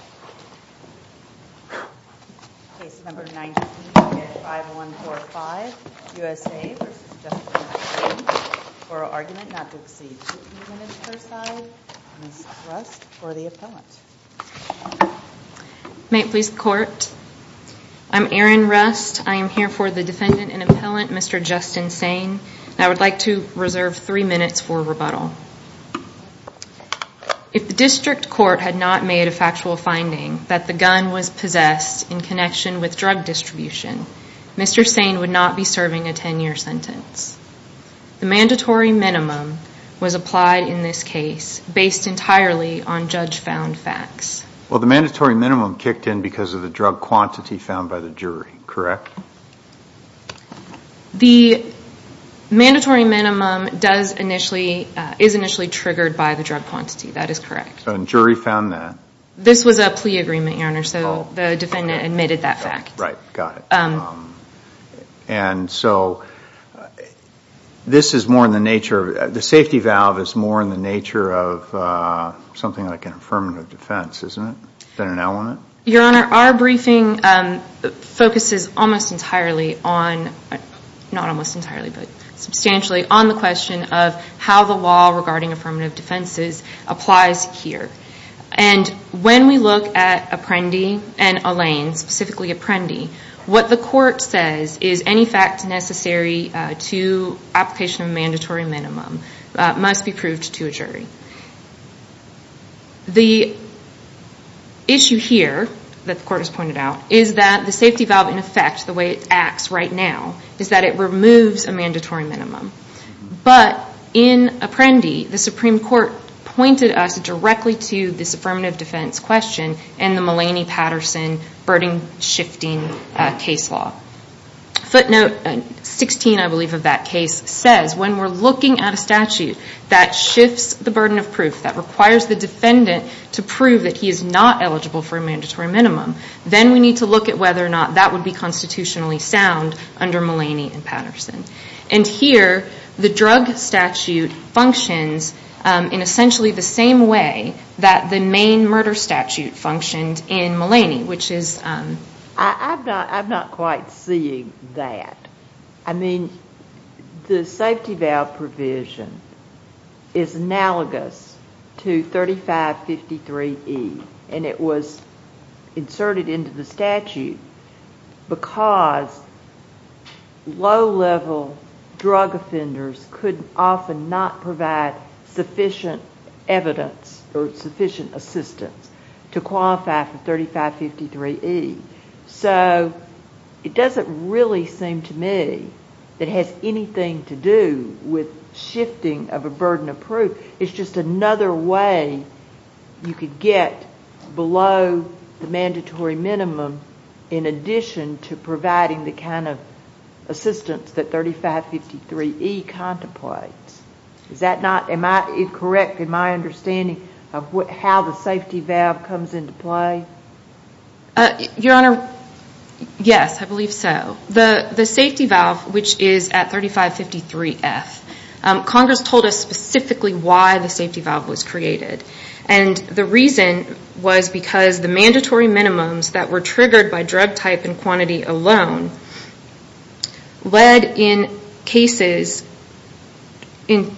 May it please the court. I'm Erin Rust. I am here for the defendant and appellant, Mr. Justin Sain. I would like to reserve three minutes for rebuttal. If the district court had not made a factual finding that the gun was possessed in connection with drug distribution, Mr. Sain would not be serving a 10-year sentence. The mandatory minimum was applied in this case based entirely on judge-found facts. Well, the mandatory minimum kicked in because of the drug quantity found by the jury, correct? The mandatory minimum is initially triggered by the drug quantity, that is correct. And jury found that? This was a plea agreement, Your Honor, so the defendant admitted that fact. Right, got it. And so, this is more in the nature, the safety valve is more in the nature of something like an affirmative defense, isn't it? Than an element? Your Honor, our briefing focuses almost entirely on, not almost entirely, but substantially on the question of how the law regarding affirmative defenses applies here. And when we look at Apprendi and Allain, specifically Apprendi, what the court says is any fact necessary to application of a mandatory minimum must be proved to a jury. The issue here that the court has pointed out is that the safety valve in effect, the way it acts right now, is that it removes a mandatory minimum. But in Apprendi, the Supreme Court pointed us directly to this affirmative defense question and the Mullaney-Patterson burden shifting case law. Footnote 16, I believe, of that case says, when we're looking at a statute that shifts the burden of proof, that requires the defendant to prove that he is not eligible for a mandatory minimum, then we need to look at whether or not that would be constitutionally sound under Mullaney and Patterson. And here, the drug statute functions in essentially the same way that the main murder statute functioned in Mullaney, which is... I'm not quite seeing that. I mean, the safety because low-level drug offenders could often not provide sufficient evidence or sufficient assistance to qualify for 3553E. So it doesn't really seem to me that it has anything to do with shifting of a burden of proof. It's just another way you could get below the mandatory minimum in addition to providing the kind of assistance that 3553E contemplates. Is that not... Am I correct in my understanding of how the safety valve comes into play? Your Honor, yes, I believe so. The safety valve, which is at 3553F, Congress told us specifically why the safety valve was created. And the reason was because the mandatory minimums that were triggered by drug type and quantity alone led in cases,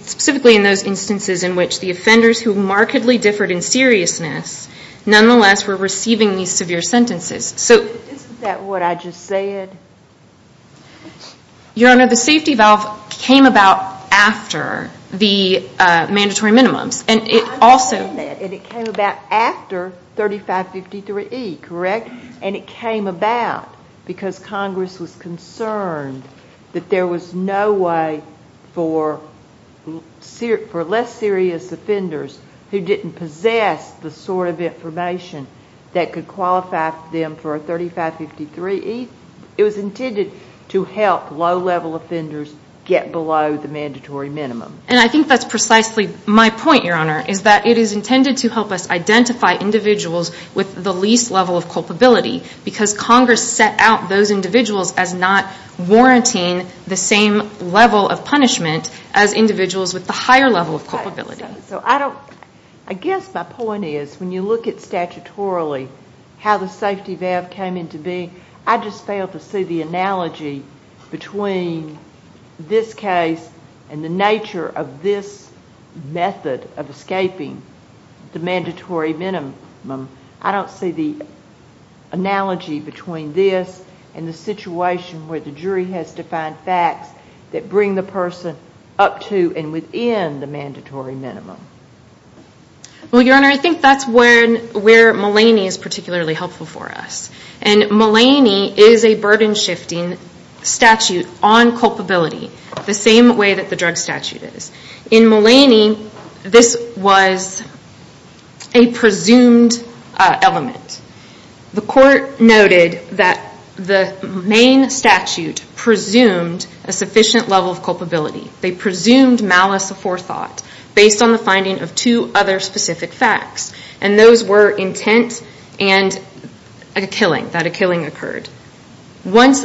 specifically in those instances in which the offenders who markedly differed in seriousness nonetheless were receiving these severe sentences. So... Isn't that what I just said? Your Honor, the safety valve came about after the mandatory minimums. And it also... 3553E, correct? And it came about because Congress was concerned that there was no way for less serious offenders who didn't possess the sort of information that could qualify them for 3553E. It was intended to help low-level offenders get below the mandatory minimum. And I think that's precisely my point, Your Honor, is that it is intended to help us identify individuals with the least level of culpability because Congress set out those individuals as not warranting the same level of punishment as individuals with the higher level of culpability. So I don't... I guess my point is, when you look at statutorily how the safety valve came into being, I just fail to see the analogy between this case and the nature of this method of escaping the mandatory minimum. I don't see the analogy between this and the situation where the jury has defined facts that bring the person up to and within the mandatory minimum. Well, Your Honor, I think that's where Mulaney is particularly helpful for us. And Mulaney is a burden-shifting statute on culpability, the same way that the drug statute is. In this case, this was a presumed element. The court noted that the main statute presumed a sufficient level of culpability. They presumed malice aforethought based on the finding of two other specific facts, and those were intent and a killing, that a killing occurred. Once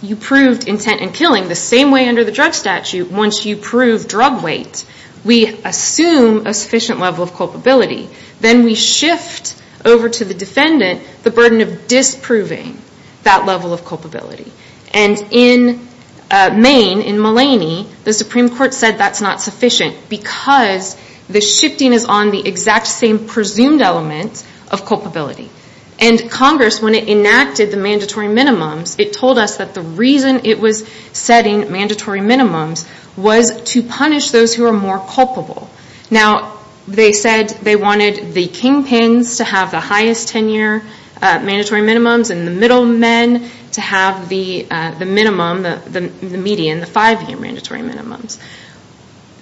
you proved intent and killing, the same way under the drug statute, once you proved drug weight, we assume a sufficient level of culpability. Then we shift over to the defendant the burden of disproving that level of culpability. And in Maine, in Mulaney, the Supreme Court said that's not sufficient because the shifting is on the exact same presumed element of culpability. And Congress, when it enacted the mandatory minimums, it told us that the reason it was setting mandatory minimums was to punish those who are more culpable. Now, they said they wanted the kingpins to have the highest tenure mandatory minimums and the middlemen to have the minimum, the median, the five-year mandatory minimums.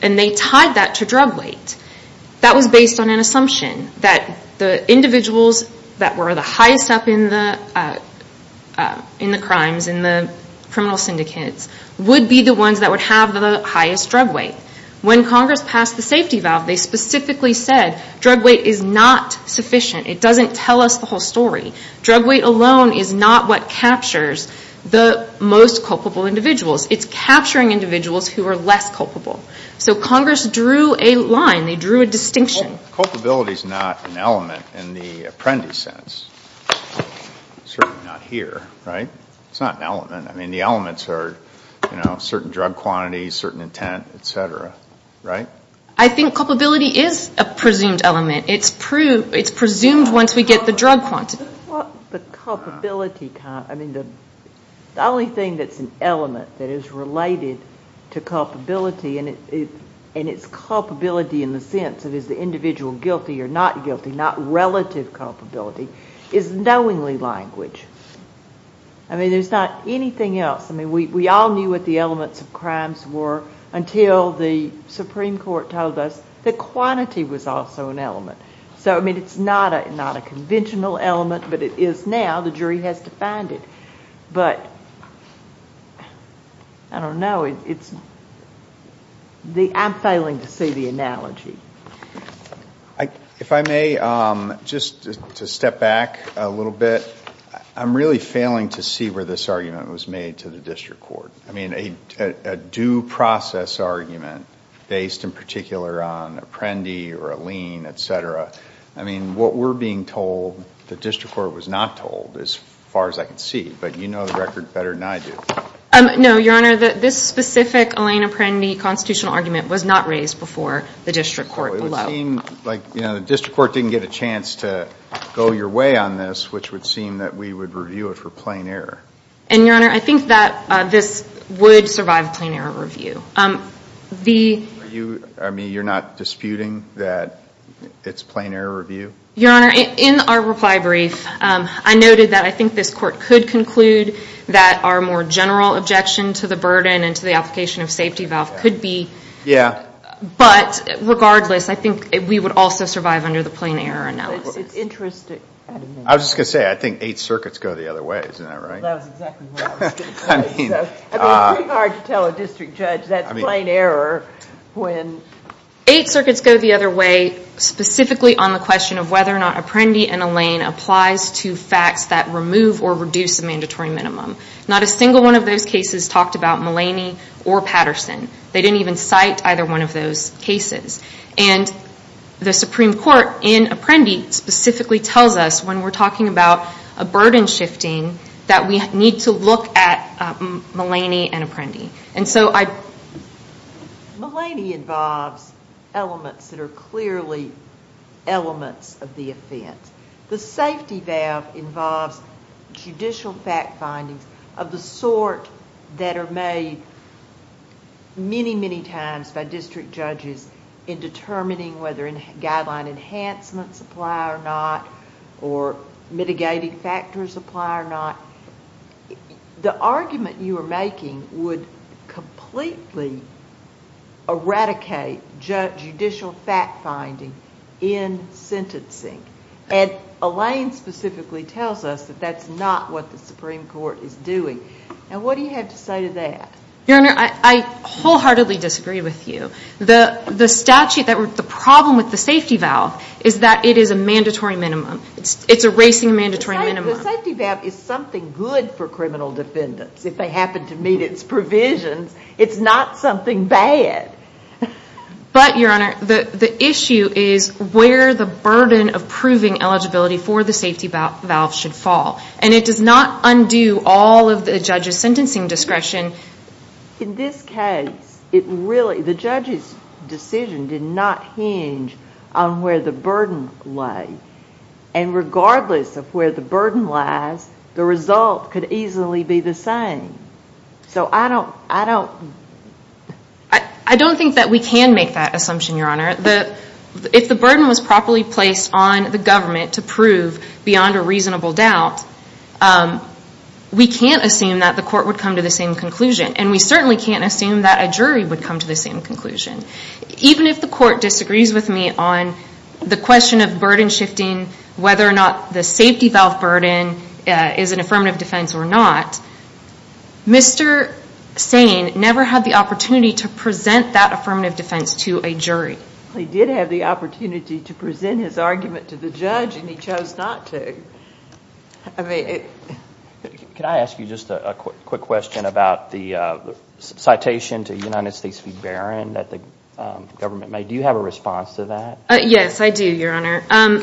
And they tied that to drug weight. That was based on an assumption that the individuals that were the highest up in the crimes, in the criminal syndicates, would be the ones that would have the highest drug weight. When Congress passed the safety valve, they specifically said drug weight is not sufficient. It doesn't tell us the whole story. Drug weight alone is not what captures the most culpable individuals. It's capturing individuals who are less culpable. So Congress drew a line. They drew a distinction. Culpability is not an element in the apprentice sense, certainly not here, right? It's not an element. I mean, the elements are, you know, certain drug quantities, certain intent, et cetera, right? I think culpability is a presumed element. It's presumed once we get the drug quantity. The only thing that's an element that is related to culpability, and it's culpability in the individual guilty or not guilty, not relative culpability, is knowingly language. I mean, there's not anything else. I mean, we all knew what the elements of crimes were until the Supreme Court told us the quantity was also an element. So, I mean, it's not a conventional element, but it is now. The jury has to find it. But I don't know. I'm failing to see the analogy. If I may, just to step back a little bit, I'm really failing to see where this argument was made to the district court. I mean, a due process argument based in particular on apprendee or a lien, et cetera. I mean, what we're being told, the district court was not told as far as I can see. But you know the record better than I do. No, Your Honor. This specific lien-apprendee constitutional argument was not raised before the district court below. Well, it would seem like the district court didn't get a chance to go your way on this, which would seem that we would review it for plain error. And, Your Honor, I think that this would survive plain error review. Are you, I mean, you're not disputing that it's plain error review? Your Honor, in our reply brief, I noted that I think this court could conclude that our more general objection to the burden and to the application of safety valve could be. Yeah. But regardless, I think we would also survive under the plain error analysis. It's interesting. I was just going to say, I think eight circuits go the other way. Isn't that right? That was exactly what I was going to say. I mean, it's pretty hard to tell a district judge that's plain error when... Eight circuits go the other way specifically on the question of whether or not apprendee and a lien applies to facts that remove or reduce a mandatory minimum. Not a single one of those cases talked about Mullaney or Patterson. They didn't even cite either one of those cases. And the Supreme Court in Apprendi specifically tells us when we're talking about a burden shifting that we need to look at Mullaney and Apprendi. And so I... Mullaney involves elements that are clearly elements of the offense. The safety valve involves judicial fact findings of the sort that are made many, many times by district judges in determining whether guideline enhancements apply or not, or mitigating factors apply or not. The argument you are making would completely eradicate judicial fact finding in sentencing. And Elaine specifically tells us that that's not what the Supreme Court is doing. And what do you have to say to that? Your Honor, I wholeheartedly disagree with you. The statute that... The problem with the safety valve is that it is a mandatory minimum. It's erasing a mandatory minimum. The safety valve is something good for criminal defendants if they happen to meet its provisions. It's not something bad. But, Your Honor, the issue is where the burden of proving eligibility for the safety valve should fall. And it does not undo all of the judge's sentencing discretion. In this case, it really... The judge's decision did not hinge on where the burden lay. And regardless of where the burden lies, the result could easily be the same. So I don't... I don't think that we can make that assumption, Your Honor. If the burden was properly placed on the government to prove beyond a reasonable doubt, we can't assume that the court would come to the same conclusion. And we certainly can't assume that a jury would come to the same conclusion. Even if the court disagrees with me on the question of burden shifting, whether or not the safety valve burden is an affirmative defense or not, Mr. Sane never had the opportunity to present that affirmative defense to a jury. He did have the opportunity to present his argument to the judge, and he chose not to. Can I ask you just a quick question about the citation to United States v. Barron that the government made? Do you have a response to that? Yes, I do, Your Honor.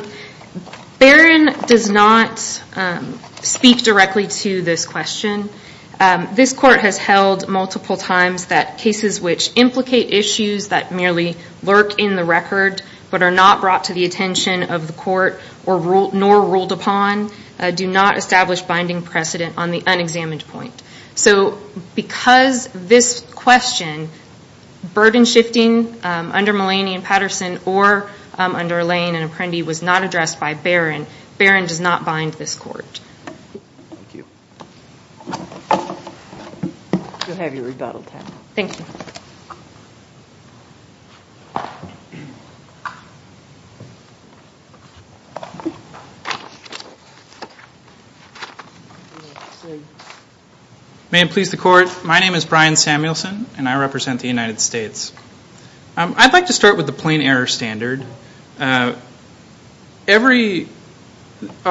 Barron does not speak directly to this question. This court has held multiple times that cases which implicate issues that merely lurk in the record but are not brought to the attention of the court nor ruled upon do not establish binding precedent on the unexamined point. So because this question, burden shifting under Mullaney and Patterson or under Lane and Apprendi was not addressed by Barron, Barron does not bind this court. You'll have your rebuttal time. Thank you. May it please the Court. My name is Brian Samuelson, and I represent the United States. I'd like to start with the plain error standard. A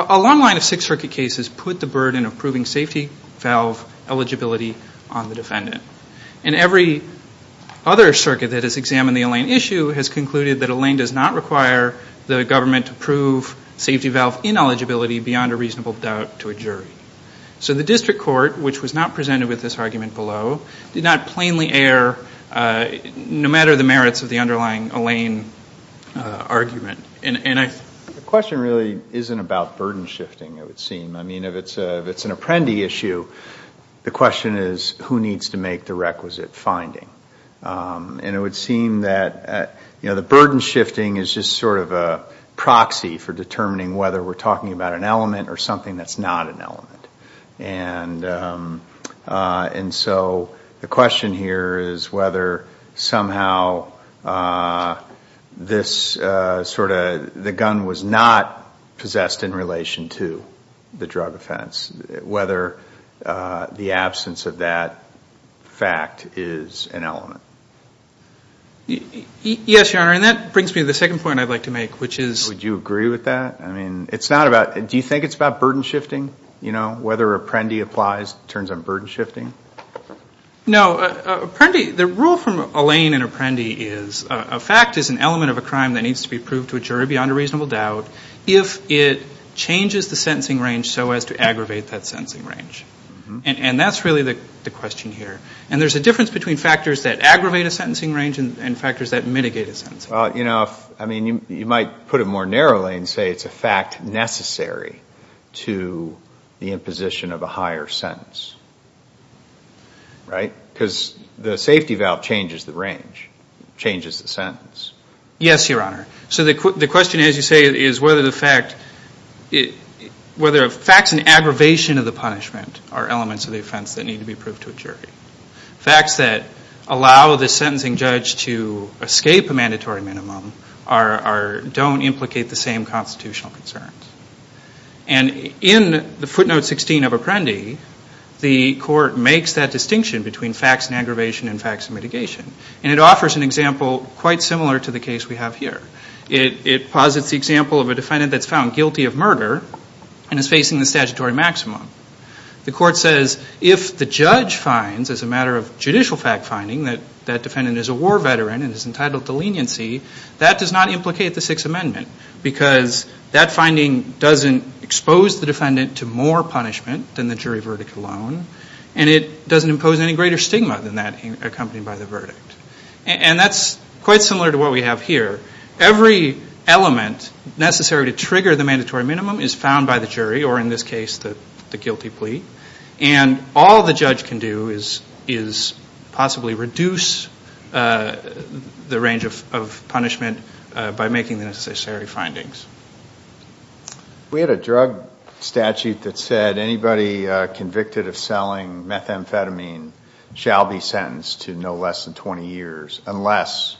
long line of Sixth Circuit cases put the defendant. And every other circuit that has examined the Lane issue has concluded that a Lane does not require the government to prove safety valve ineligibility beyond a reasonable doubt to a jury. So the district court, which was not presented with this argument below, did not plainly err no matter the merits of the underlying Lane argument. The question really isn't about burden shifting, it would seem. I mean, if it's an Apprendi issue, the question is who needs to make the requisite finding. And it would seem that the burden shifting is just sort of a proxy for determining whether we're talking about an element or something that's not an element. And so the question here is whether somehow this sort of, the gun was not possessed in relation to the drug offense, whether the absence of that fact is an element. Yes, Your Honor, and that brings me to the second point I'd like to make, which is... Would you agree with that? I mean, it's not about, do you think it's about burden shifting? You know, whether Apprendi applies, turns out burden shifting? No, Apprendi, the rule from Lane and Apprendi is a fact is an element of a crime that needs to be proved to a jury beyond a reasonable doubt if it changes the sentencing range so as to aggravate that sentencing range. And that's really the question here. And there's a difference between factors that aggravate a sentencing range and factors that mitigate a sentencing range. You know, I mean, you might put it more narrowly and say it's a fact necessary to the imposition of a higher sentence, right? Because the safety valve changes the range, changes the sentence. Yes, Your Honor. So the question, as you say, is whether the fact, whether facts and aggravation of the punishment are elements of the offense that need to be proved to a jury. Facts that allow the sentencing judge to escape a mandatory minimum are, don't implicate the same constitutional concerns. And in the footnote 16 of Apprendi, the court makes that distinction between facts and aggravation and facts and mitigation. And it offers an example quite similar to the case we have here. It posits the example of a defendant that's found guilty of murder and is facing the statutory maximum. The court says if the judge finds, as a matter of judicial fact finding, that that defendant is a war veteran and is entitled to leniency, that does not implicate the Sixth Amendment. Because that finding doesn't expose the defendant to more punishment than the jury verdict alone. And it doesn't impose any greater stigma than that accompanied by the verdict. And that's quite similar to what we have here. Every element necessary to trigger the mandatory minimum is found by the jury, or in this case the guilty plea. And all the judge can do is possibly reduce the range of punishment by making the necessary findings. We had a drug statute that said anybody convicted of selling methamphetamine shall be sentenced to no less than 20 years unless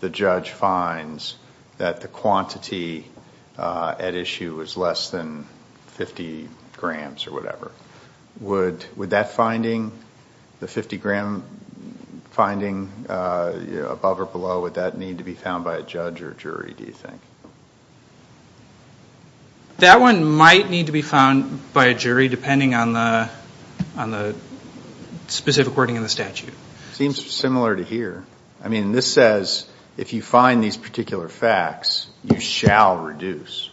the judge finds that the quantity at issue is less than 50 grams or whatever. Would that finding, the 50 gram finding, above or below, would that need to be found by a judge or jury, do you think? That one might need to be found by a jury depending on the specific wording in the statute. Seems similar to here. I mean, this says if you find these particular facts, you shall reduce.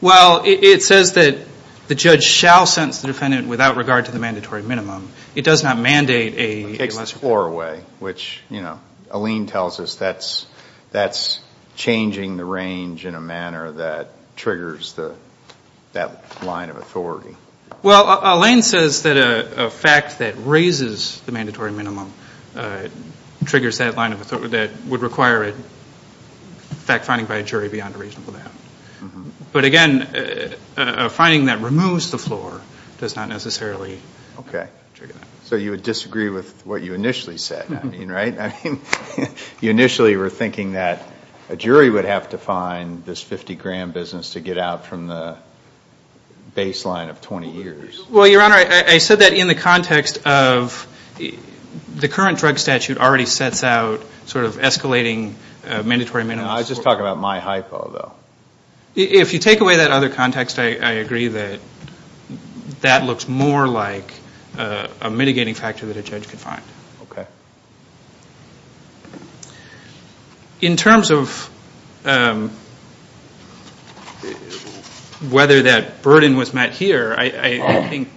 Well, it says that the judge shall sentence the defendant without regard to the mandatory minimum. It does not mandate a lesser punishment. Far away, which, you know, Alain tells us that's changing the range in a manner that triggers that line of authority. Well, Alain says that a fact that raises the mandatory minimum triggers that line of authority that would require a fact finding by a jury beyond a reasonable amount. But again, a finding that removes the floor does not necessarily trigger that. So you would disagree with what you initially said, I mean, right? I mean, you initially were thinking that a jury would have to find this 50 gram business to get out from the baseline of 20 years. Well, Your Honor, I said that in the context of the current drug statute already sets out sort of escalating mandatory minimums. I was just talking about my hypo though. If you take away that other context, I agree that that looks more like a mitigating factor that a judge could find. In terms of whether that burden was met here, I think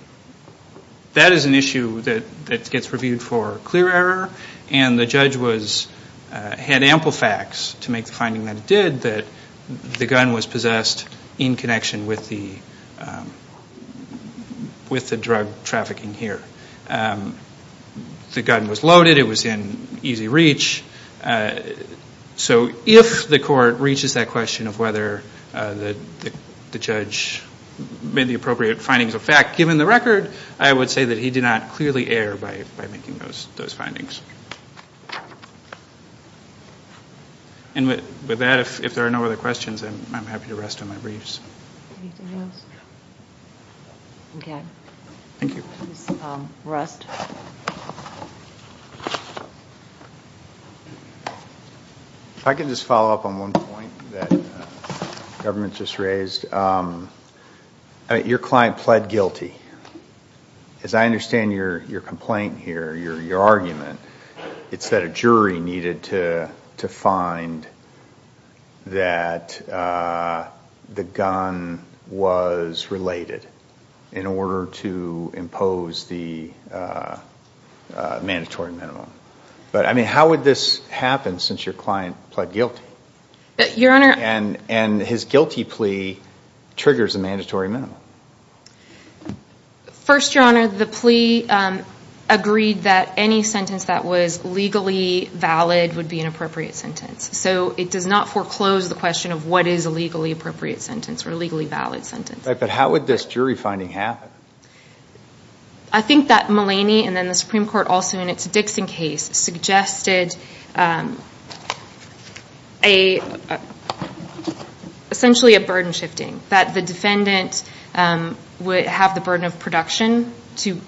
that is an issue that gets reviewed for clear error. And the judge had ample facts to make the finding that it did that the gun was possessed in connection with the drug trafficking here. The gun was loaded. It was in easy reach. So if the court reaches that question of whether the judge made the appropriate findings of the record, I would say that he did not clearly err by making those findings. And with that, if there are no other questions, I'm happy to rest on my briefs. If I could just follow up on one point that the government just raised. Your client pled guilty. As I understand your complaint here, your argument, it's that a jury needed to find that the gun was related in order to impose the mandatory minimum. But I mean, how would this happen since your client pled guilty? Your Honor... And his guilty plea triggers a mandatory minimum. First, Your Honor, the plea agreed that any sentence that was legally valid would be an appropriate sentence. So it does not foreclose the question of what is a legally appropriate sentence or a legally valid sentence. But how would this jury finding happen? I think that Mulaney and then the Supreme Court also in its Dixon case suggested essentially a burden shifting. That the defendant would have the burden of production to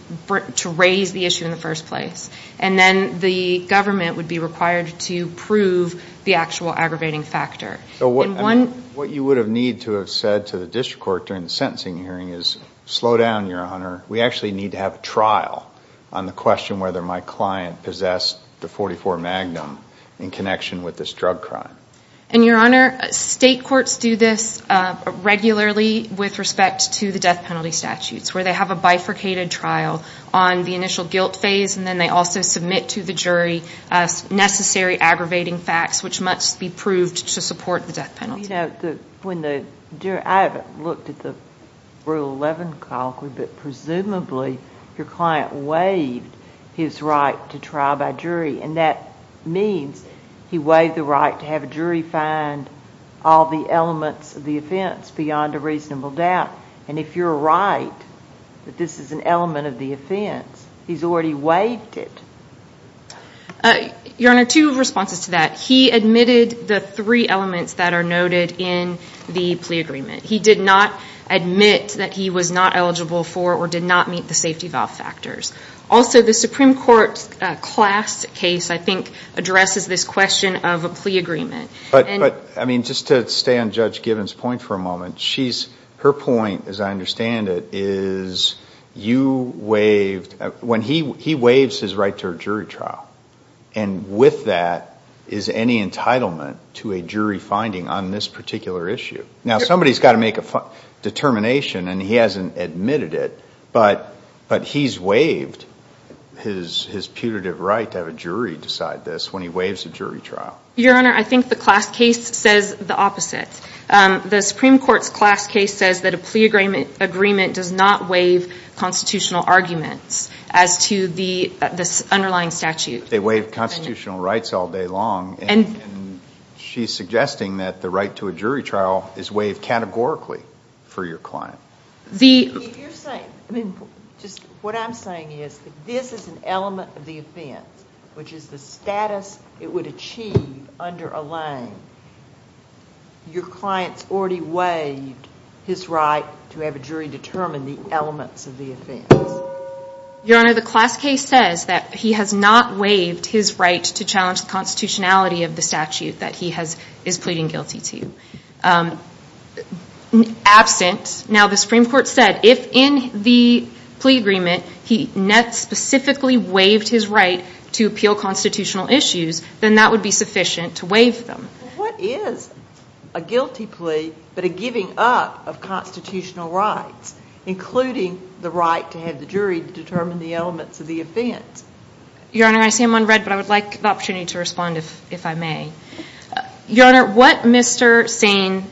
raise the issue in the first place. And then the government would be required to prove the actual aggravating factor. What you would have need to have said to the district court during the sentencing hearing is slow down, Your Honor. We actually need to have a trial on the question whether my client possessed the .44 Magnum in connection with this drug crime. And Your Honor, state courts do this regularly with respect to the death penalty statutes where they have a bifurcated trial on the initial guilt phase and then they also submit to the jury necessary aggravating facts which must be proved to support the death penalty. I haven't looked at the Rule 11 colloquy, but presumably your client waived his right to trial by jury. And that means he waived the right to have a jury find all the elements of the offense beyond a reasonable doubt. And if you're right that this is an element of the offense, he's already waived it. Your Honor, two responses to that. He admitted the three elements that are noted in the plea agreement. He did not admit that he was not eligible for or did not meet the safety valve factors. Also, the Supreme Court class case, I think, addresses this question of a plea agreement. But, I mean, just to stay on Judge Gibbons' point for a moment, she's, her point, as I said, is a jury trial. And with that, is any entitlement to a jury finding on this particular issue? Now, somebody's got to make a determination and he hasn't admitted it, but he's waived his putative right to have a jury decide this when he waives a jury trial. Your Honor, I think the class case says the opposite. The Supreme Court's class case says that a plea agreement does not waive constitutional arguments as to the underlying statute. They waive constitutional rights all day long. And she's suggesting that the right to a jury trial is waived categorically for your client. You're saying, I mean, just what I'm saying is that this is an element of the offense, which is the status it would achieve under a lane. Your client's already waived his right to have a jury determine the elements of the offense. Your Honor, the class case says that he has not waived his right to challenge the constitutionality of the statute that he has, is pleading guilty to. Absent, now the Supreme Court said if in the plea agreement he net specifically waived his right to appeal constitutional issues, then that would be sufficient to waive them. What is a guilty plea but a giving up of constitutional rights, including the right to have the jury determine the elements of the offense? Your Honor, I see I'm on read, but I would like the opportunity to respond if I may. Your Honor, what Mr. Sane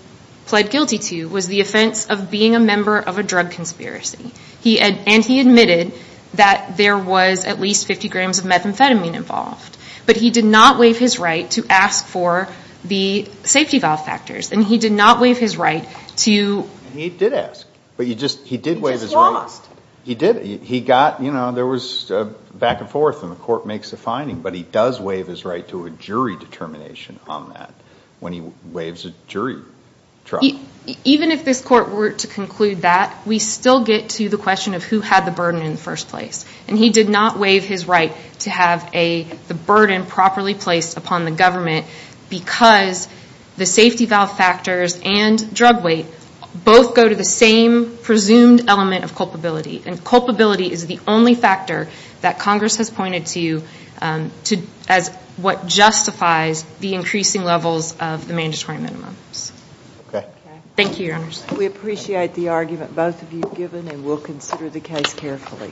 pled guilty to was the offense of being a member of a drug conspiracy. And he admitted that there was at least 50 grams of methamphetamine involved. But he did not waive his right to ask for the safety valve factors. And he did not waive his right to... And he did ask. But he just, he did waive his right. He just lost. He did. He got, you know, there was back and forth and the court makes a finding. But he does waive his right to a jury determination on that when he waives a jury trial. Even if this court were to conclude that, we still get to the question of who had the properly placed upon the government because the safety valve factors and drug weight both go to the same presumed element of culpability. And culpability is the only factor that Congress has pointed to as what justifies the increasing levels of the mandatory minimums. Okay. Thank you, Your Honor. We appreciate the argument both of you have given and we'll consider the case carefully. Thank you.